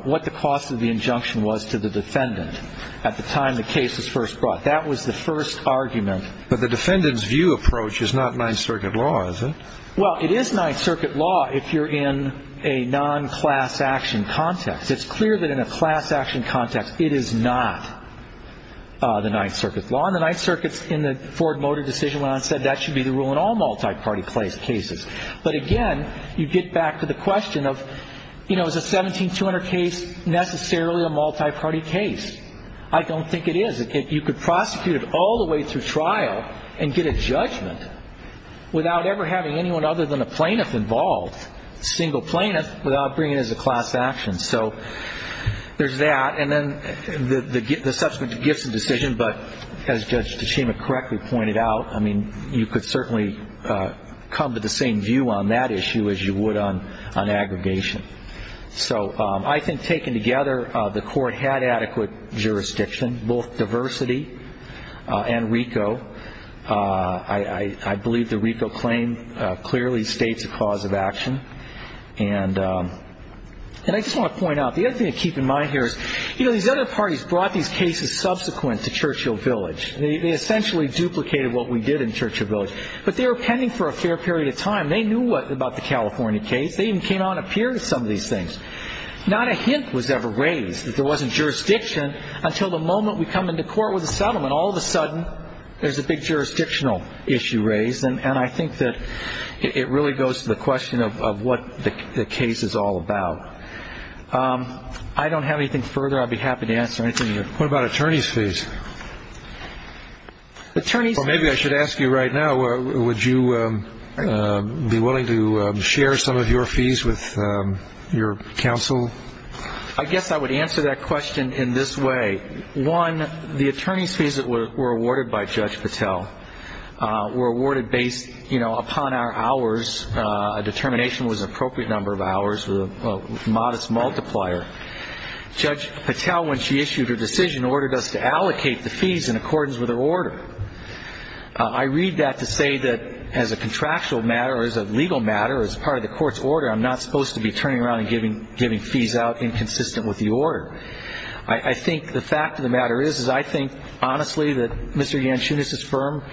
what the cost of the injunction was to the defendant at the time the case was first brought. That was the first argument. But the defendant's view approach is not Ninth Circuit law, is it? Well, it is Ninth Circuit law if you're in a non-class action context. It's clear that in a class action context, it is not the Ninth Circuit law. John, the Ninth Circuit's in the Ford Motor decision when I said that should be the rule in all multi-party cases. But, again, you get back to the question of, you know, is a 17200 case necessarily a multi-party case? I don't think it is. You could prosecute it all the way through trial and get a judgment without ever having anyone other than a plaintiff involved, a single plaintiff, without bringing it as a class action. So there's that. And then the subsequent gifts of decision, but as Judge Tachema correctly pointed out, I mean, you could certainly come to the same view on that issue as you would on aggregation. So I think taken together, the Court had adequate jurisdiction, both diversity and RICO. I believe the RICO claim clearly states a cause of action. And I just want to point out, the other thing to keep in mind here is, you know, these other parties brought these cases subsequent to Churchill Village. They essentially duplicated what we did in Churchill Village. But they were pending for a fair period of time. They knew about the California case. They even came out on a peer to some of these things. Not a hint was ever raised that there wasn't jurisdiction until the moment we come into court with a settlement. All of a sudden, there's a big jurisdictional issue raised. And I think that it really goes to the question of what the case is all about. I don't have anything further. I'd be happy to answer anything you have. What about attorney's fees? Maybe I should ask you right now, would you be willing to share some of your fees with your counsel? I guess I would answer that question in this way. One, the attorney's fees that were awarded by Judge Patel were awarded based, you know, upon our hours. A determination was an appropriate number of hours with a modest multiplier. Judge Patel, when she issued her decision, ordered us to allocate the fees in accordance with her order. I read that to say that as a contractual matter or as a legal matter or as part of the court's order, I'm not supposed to be turning around and giving fees out inconsistent with the order. I think the fact of the matter is, is I think honestly that Mr. Yanchunis's firm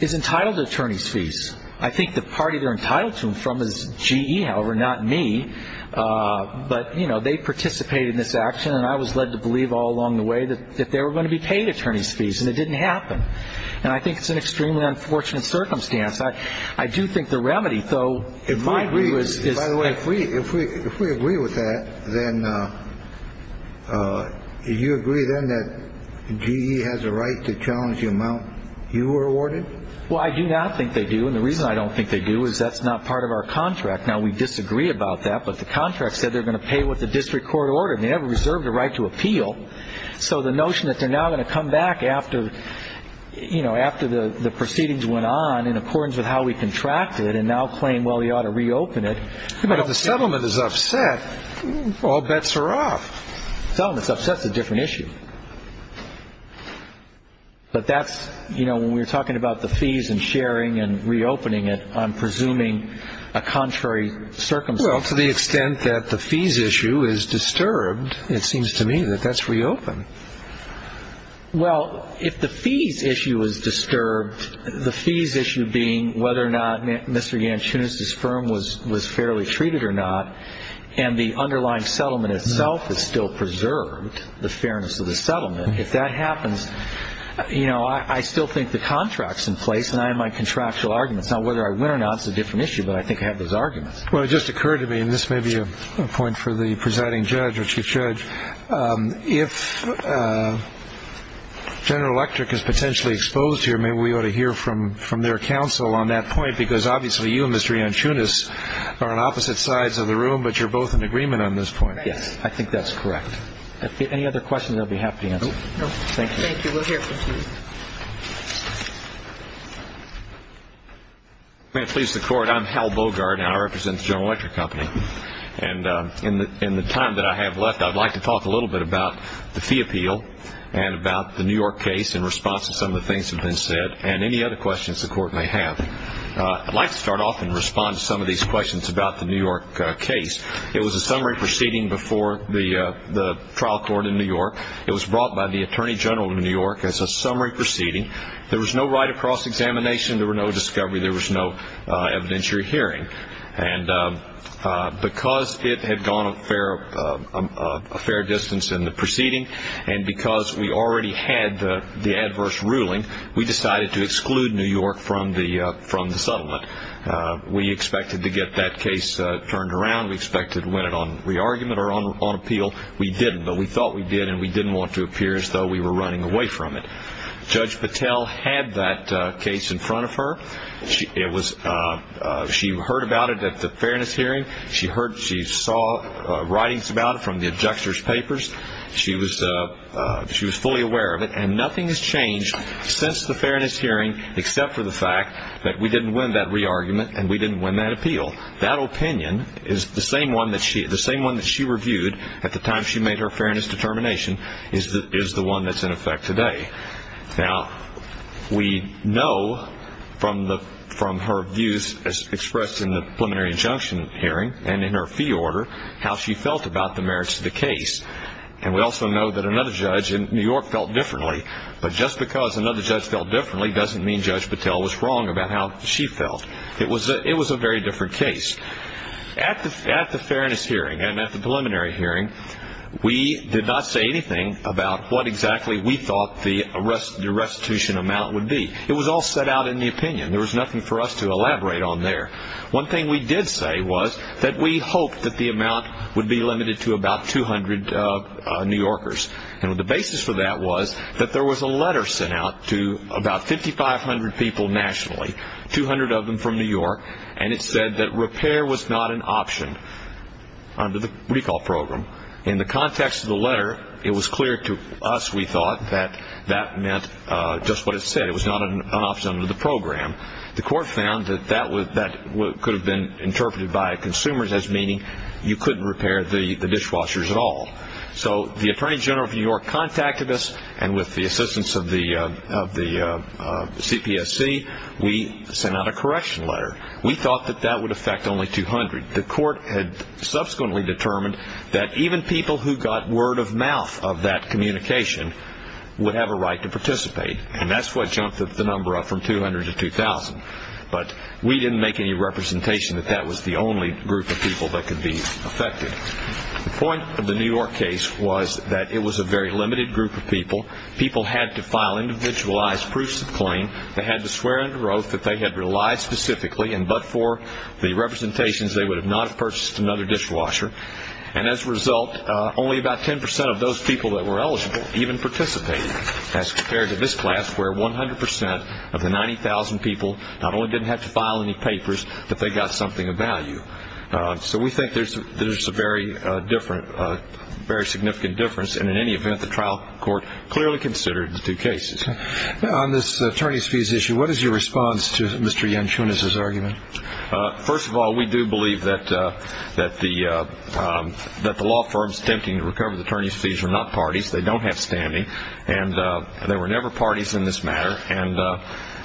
is entitled to attorney's fees. I think the party they're entitled to them from is GE, however, not me. But, you know, they participated in this action. And I was led to believe all along the way that they were going to be paid attorney's fees. And it didn't happen. And I think it's an extremely unfortunate circumstance. I do think the remedy, though, in my view is by the way. If we agree with that, then you agree then that GE has a right to challenge the amount you were awarded? Well, I do not think they do. And the reason I don't think they do is that's not part of our contract. Now, we disagree about that. But the contract said they're going to pay with the district court order. They have reserved a right to appeal. So the notion that they're now going to come back after, you know, after the proceedings went on in accordance with how we contracted it and now claim, well, you ought to reopen it. But if the settlement is upset, all bets are off. Settlement is upset is a different issue. But that's, you know, when we're talking about the fees and sharing and reopening it, I'm presuming a contrary circumstance. Well, to the extent that the fees issue is disturbed, it seems to me that that's reopened. Well, if the fees issue is disturbed, the fees issue being whether or not Mr. Yanchunis's firm was fairly treated or not, and the underlying settlement itself is still preserved, the fairness of the settlement, if that happens, you know, I still think the contract's in place and I have my contractual arguments. Now, whether I win or not is a different issue, but I think I have those arguments. Well, it just occurred to me, and this may be a point for the presiding judge or chief judge, if General Electric is potentially exposed here, maybe we ought to hear from their counsel on that point, because obviously you and Mr. Yanchunis are on opposite sides of the room, but you're both in agreement on this point. Yes, I think that's correct. Any other questions, I'll be happy to answer. No. Thank you. Thank you. We'll hear from you. May it please the Court, I'm Hal Bogart, and I represent the General Electric Company. And in the time that I have left, I'd like to talk a little bit about the fee appeal and about the New York case in response to some of the things that have been said, and any other questions the Court may have. I'd like to start off and respond to some of these questions about the New York case. It was a summary proceeding before the trial court in New York. It was brought by the Attorney General of New York as a summary proceeding. There was no right of cross-examination. There were no discovery. There was no evidentiary hearing. And because it had gone a fair distance in the proceeding and because we already had the adverse ruling, we decided to exclude New York from the settlement. We expected to get that case turned around. We expected to win it on re-argument or on appeal. We didn't, but we thought we did, and we didn't want to appear as though we were running away from it. Judge Patel had that case in front of her. She heard about it at the fairness hearing. She saw writings about it from the abjector's papers. She was fully aware of it, and nothing has changed since the fairness hearing except for the fact that we didn't win that re-argument and we didn't win that appeal. That opinion is the same one that she reviewed at the time she made her fairness determination is the one that's in effect today. Now, we know from her views expressed in the preliminary injunction hearing and in her fee order how she felt about the merits of the case. And we also know that another judge in New York felt differently, but just because another judge felt differently doesn't mean Judge Patel was wrong about how she felt. It was a very different case. At the fairness hearing and at the preliminary hearing, we did not say anything about what exactly we thought the restitution amount would be. It was all set out in the opinion. There was nothing for us to elaborate on there. One thing we did say was that we hoped that the amount would be limited to about 200 New Yorkers, and the basis for that was that there was a letter sent out to about 5,500 people nationally, 200 of them from New York, and it said that repair was not an option under the recall program. In the context of the letter, it was clear to us, we thought, that that meant just what it said. It was not an option under the program. The court found that that could have been interpreted by consumers as meaning you couldn't repair the dishwashers at all. So the Attorney General of New York contacted us, and with the assistance of the CPSC, we sent out a correction letter. We thought that that would affect only 200. The court had subsequently determined that even people who got word of mouth of that communication would have a right to participate, and that's what jumped the number up from 200 to 2,000. But we didn't make any representation that that was the only group of people that could be affected. The point of the New York case was that it was a very limited group of people. People had to file individualized proofs of claim. They had to swear under oath that they had relied specifically, and but for the representations, they would have not purchased another dishwasher. And as a result, only about 10% of those people that were eligible even participated, as compared to this class where 100% of the 90,000 people not only didn't have to file any papers, but they got something of value. So we think there's a very significant difference, and in any event, the trial court clearly considered the two cases. On this attorneys' fees issue, what is your response to Mr. Yanchunas' argument? First of all, we do believe that the law firm's attempting to recover the attorneys' fees are not parties. They don't have standing, and there were never parties in this matter,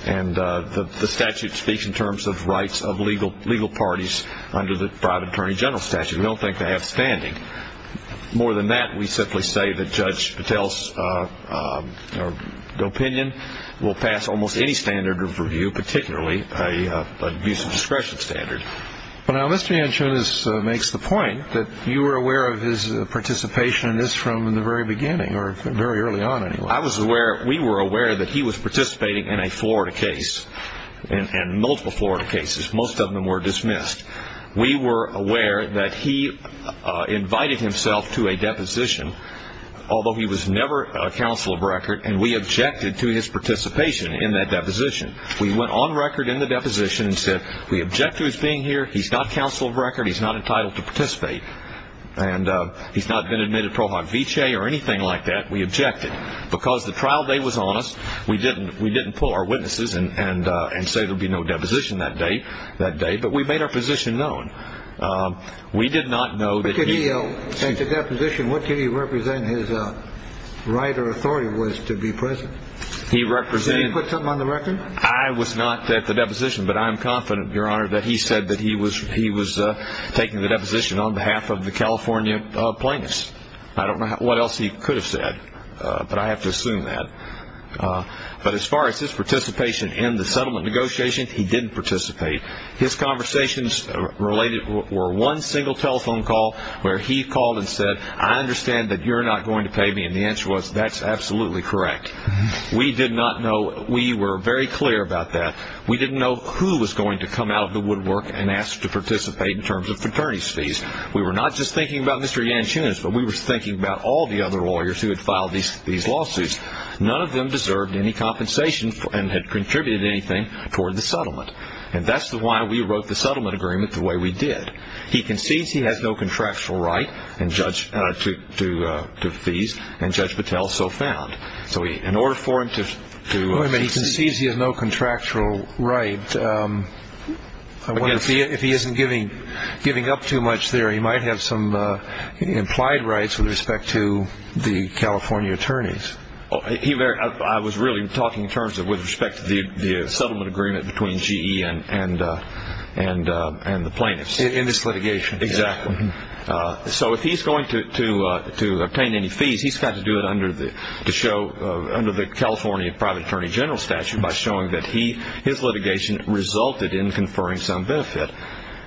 and the statute speaks in terms of rights of legal parties under the private attorney general statute. We don't think they have standing. More than that, we simply say that Judge Patel's opinion will pass almost any standard of review, particularly an abuse of discretion standard. Now, Mr. Yanchunas makes the point that you were aware of his participation in this from the very beginning, or very early on, anyway. I was aware, we were aware that he was participating in a Florida case, and multiple Florida cases. Most of them were dismissed. We were aware that he invited himself to a deposition, although he was never a counsel of record, and we objected to his participation in that deposition. We went on record in the deposition and said, we object to his being here. He's not counsel of record. He's not entitled to participate, and he's not been admitted pro hoc vicee or anything like that. We objected because the trial day was on us. We didn't pull our witnesses and say there would be no deposition that day, but we made our position known. We did not know that he – But could he, at the deposition, what could he represent his right or authority was to be present? He represented – Did he put something on the record? I was not at the deposition, but I am confident, Your Honor, that he said that he was taking the deposition on behalf of the California plaintiffs. I don't know what else he could have said, but I have to assume that. But as far as his participation in the settlement negotiations, he didn't participate. His conversations related – were one single telephone call where he called and said, I understand that you're not going to pay me, and the answer was, that's absolutely correct. We did not know – we were very clear about that. We didn't know who was going to come out of the woodwork and ask to participate in terms of fraternity fees. We were not just thinking about Mr. Yanchunas, but we were thinking about all the other lawyers who had filed these lawsuits. None of them deserved any compensation and had contributed anything toward the settlement. And that's why we wrote the settlement agreement the way we did. He concedes he has no contractual right to fees, and Judge Patel so found. So in order for him to – Wait a minute. He concedes he has no contractual right. I wonder if he isn't giving up too much there. He might have some implied rights with respect to the California attorneys. I was really talking in terms of with respect to the settlement agreement between GE and the plaintiffs. In this litigation. Exactly. So if he's going to obtain any fees, he's got to do it under the California private attorney general statute by showing that his litigation resulted in conferring some benefit.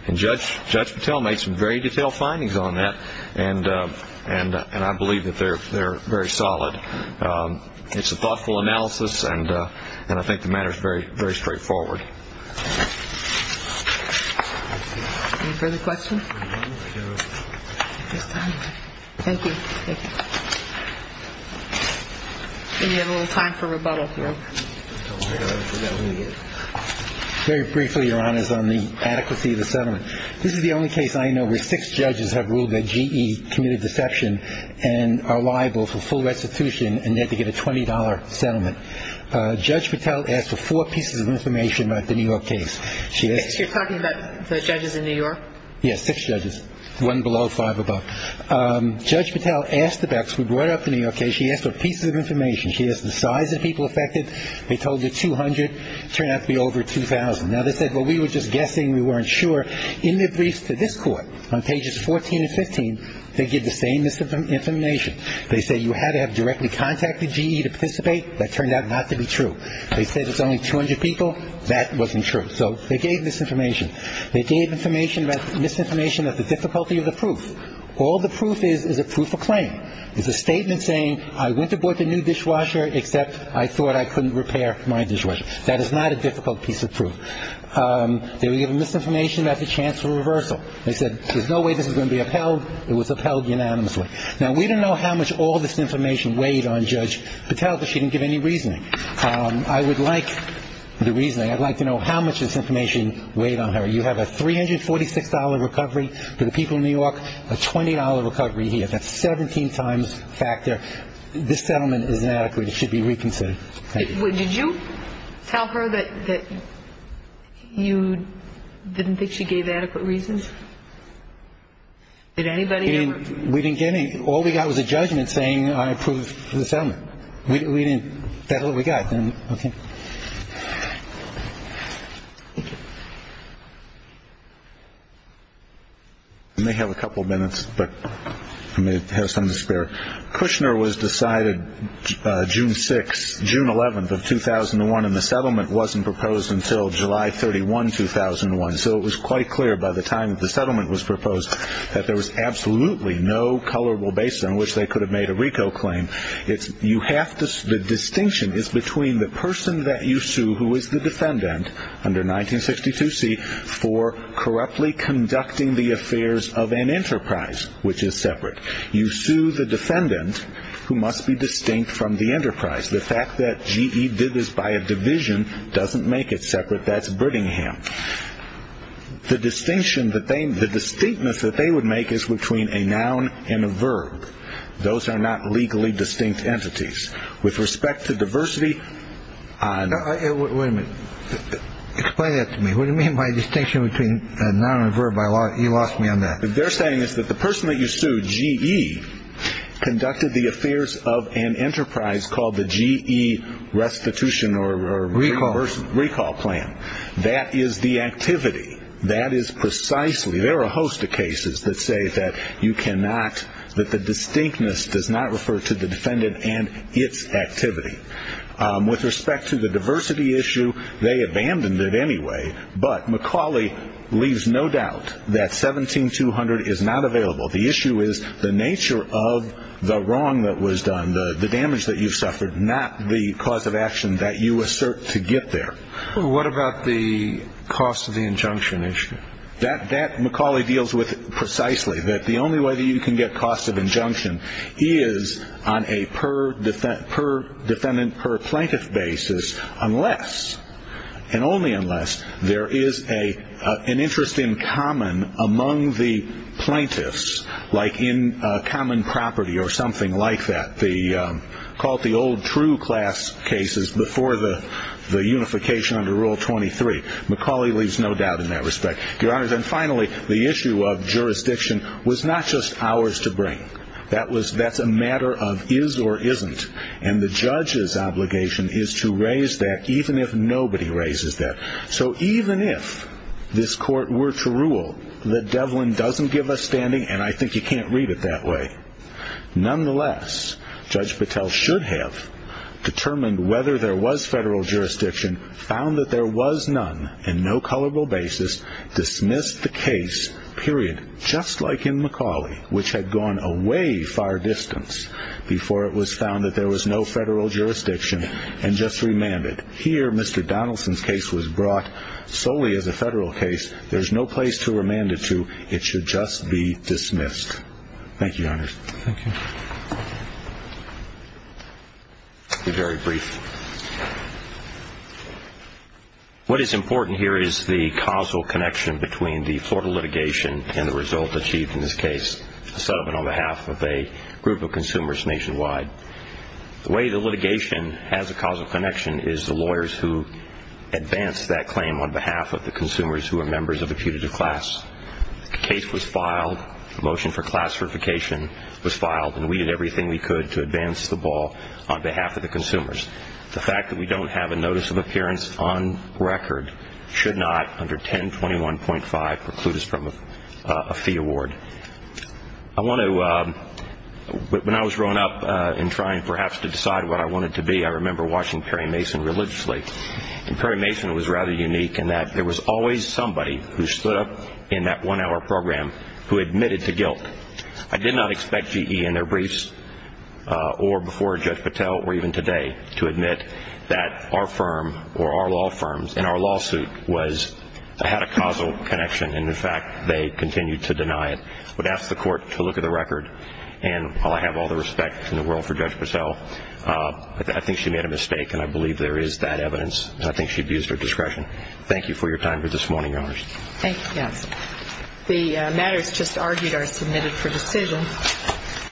And Judge Patel made some very detailed findings on that, and I believe that they're very solid. It's a thoughtful analysis, and I think the matter is very straightforward. Any further questions? Thank you. We have a little time for rebuttal. Very briefly, Your Honors, on the adequacy of the settlement. This is the only case I know where six judges have ruled that GE committed deception and are liable for full restitution, and they had to get a $20 settlement. Judge Patel asked for four pieces of information about the New York case. You're talking about the judges in New York? Yes, six judges, one below, five above. Judge Patel asked the Becks. We brought up the New York case. She asked for pieces of information. She asked the size of the people affected. They told her 200. Turned out to be over 2,000. Now, they said, well, we were just guessing. We weren't sure. In their briefs to this Court, on pages 14 and 15, they give the same misinformation. They say you had to have directly contacted GE to participate. That turned out not to be true. They said it's only 200 people. That wasn't true. So they gave misinformation. They gave misinformation about the difficulty of the proof. All the proof is is a proof of claim. It's a statement saying I went to board the new dishwasher except I thought I couldn't repair my dishwasher. That is not a difficult piece of proof. They were giving misinformation about the chance for reversal. They said there's no way this is going to be upheld. It was upheld unanimously. Now, we don't know how much all this information weighed on Judge Patel, but she didn't give any reasoning. I would like the reasoning. I'd like to know how much this information weighed on her. You have a $346 recovery for the people of New York, a $20 recovery here. That's 17 times factor. This settlement is inadequate. It should be reconsidered. Thank you. Did you tell her that you didn't think she gave adequate reasons? Did anybody ever? We didn't get any. All we got was a judgment saying I approved the settlement. We didn't. That's all we got. Okay. Thank you. I may have a couple minutes, but I may have some to spare. Kushner was decided June 6th, June 11th of 2001, and the settlement wasn't proposed until July 31, 2001. So it was quite clear by the time the settlement was proposed that there was absolutely no colorable base on which they could have made a RICO claim. The distinction is between the person that you sue who is the defendant under 1962C for corruptly conducting the affairs of an enterprise, which is separate. You sue the defendant who must be distinct from the enterprise. The fact that GE did this by a division doesn't make it separate. That's Brittingham. The distinctness that they would make is between a noun and a verb. Those are not legally distinct entities. With respect to diversity on the- Wait a minute. Explain that to me. What do you mean by distinction between a noun and a verb? You lost me on that. What they're saying is that the person that you sue, GE, conducted the affairs of an enterprise called the GE restitution or RICO plan. That is the activity. That is precisely. There are a host of cases that say that you cannot, that the distinctness does not refer to the defendant and its activity. With respect to the diversity issue, they abandoned it anyway, but McCauley leaves no doubt that 17200 is not available. The issue is the nature of the wrong that was done, the damage that you suffered, not the cause of action that you assert to get there. What about the cost of the injunction issue? That McCauley deals with precisely, that the only way that you can get cost of injunction is on a per-defendant, per-plaintiff basis unless, and only unless, there is an interest in common among the plaintiffs, like in common property or something like that. Call it the old true class cases before the unification under Rule 23. McCauley leaves no doubt in that respect. Your Honors, and finally, the issue of jurisdiction was not just ours to bring. That's a matter of is or isn't, and the judge's obligation is to raise that even if nobody raises that. So even if this court were to rule that Devlin doesn't give us standing, and I think you can't read it that way, nonetheless, Judge Patel should have determined whether there was federal jurisdiction, found that there was none, and no culpable basis, dismissed the case, period, just like in McCauley, which had gone a way far distance before it was found that there was no federal jurisdiction, and just remanded. Here, Mr. Donaldson's case was brought solely as a federal case. There's no place to remand it to. It should just be dismissed. Thank you, Your Honors. Thank you. I'll be very brief. What is important here is the causal connection between the Florida litigation and the result achieved in this case, a settlement on behalf of a group of consumers nationwide. The way the litigation has a causal connection is the lawyers who advanced that claim on behalf of the consumers who are members of a putative class. The case was filed, the motion for class certification was filed, and we did everything we could to advance the ball on behalf of the consumers. The fact that we don't have a notice of appearance on record should not, under 1021.5, preclude us from a fee award. When I was growing up and trying, perhaps, to decide what I wanted to be, I remember watching Perry Mason religiously, and Perry Mason was rather unique in that there was always somebody who stood up in that one-hour program who admitted to guilt. I did not expect GE in their briefs or before Judge Patel, or even today, to admit that our firm or our law firms in our lawsuit had a causal connection, and, in fact, they continued to deny it. I would ask the Court to look at the record, and while I have all the respect in the world for Judge Patel, I think she made a mistake, and I believe there is that evidence, and I think she abused her discretion. Thank you for your time this morning, Your Honors. Thank you. The matters just argued are submitted for decision.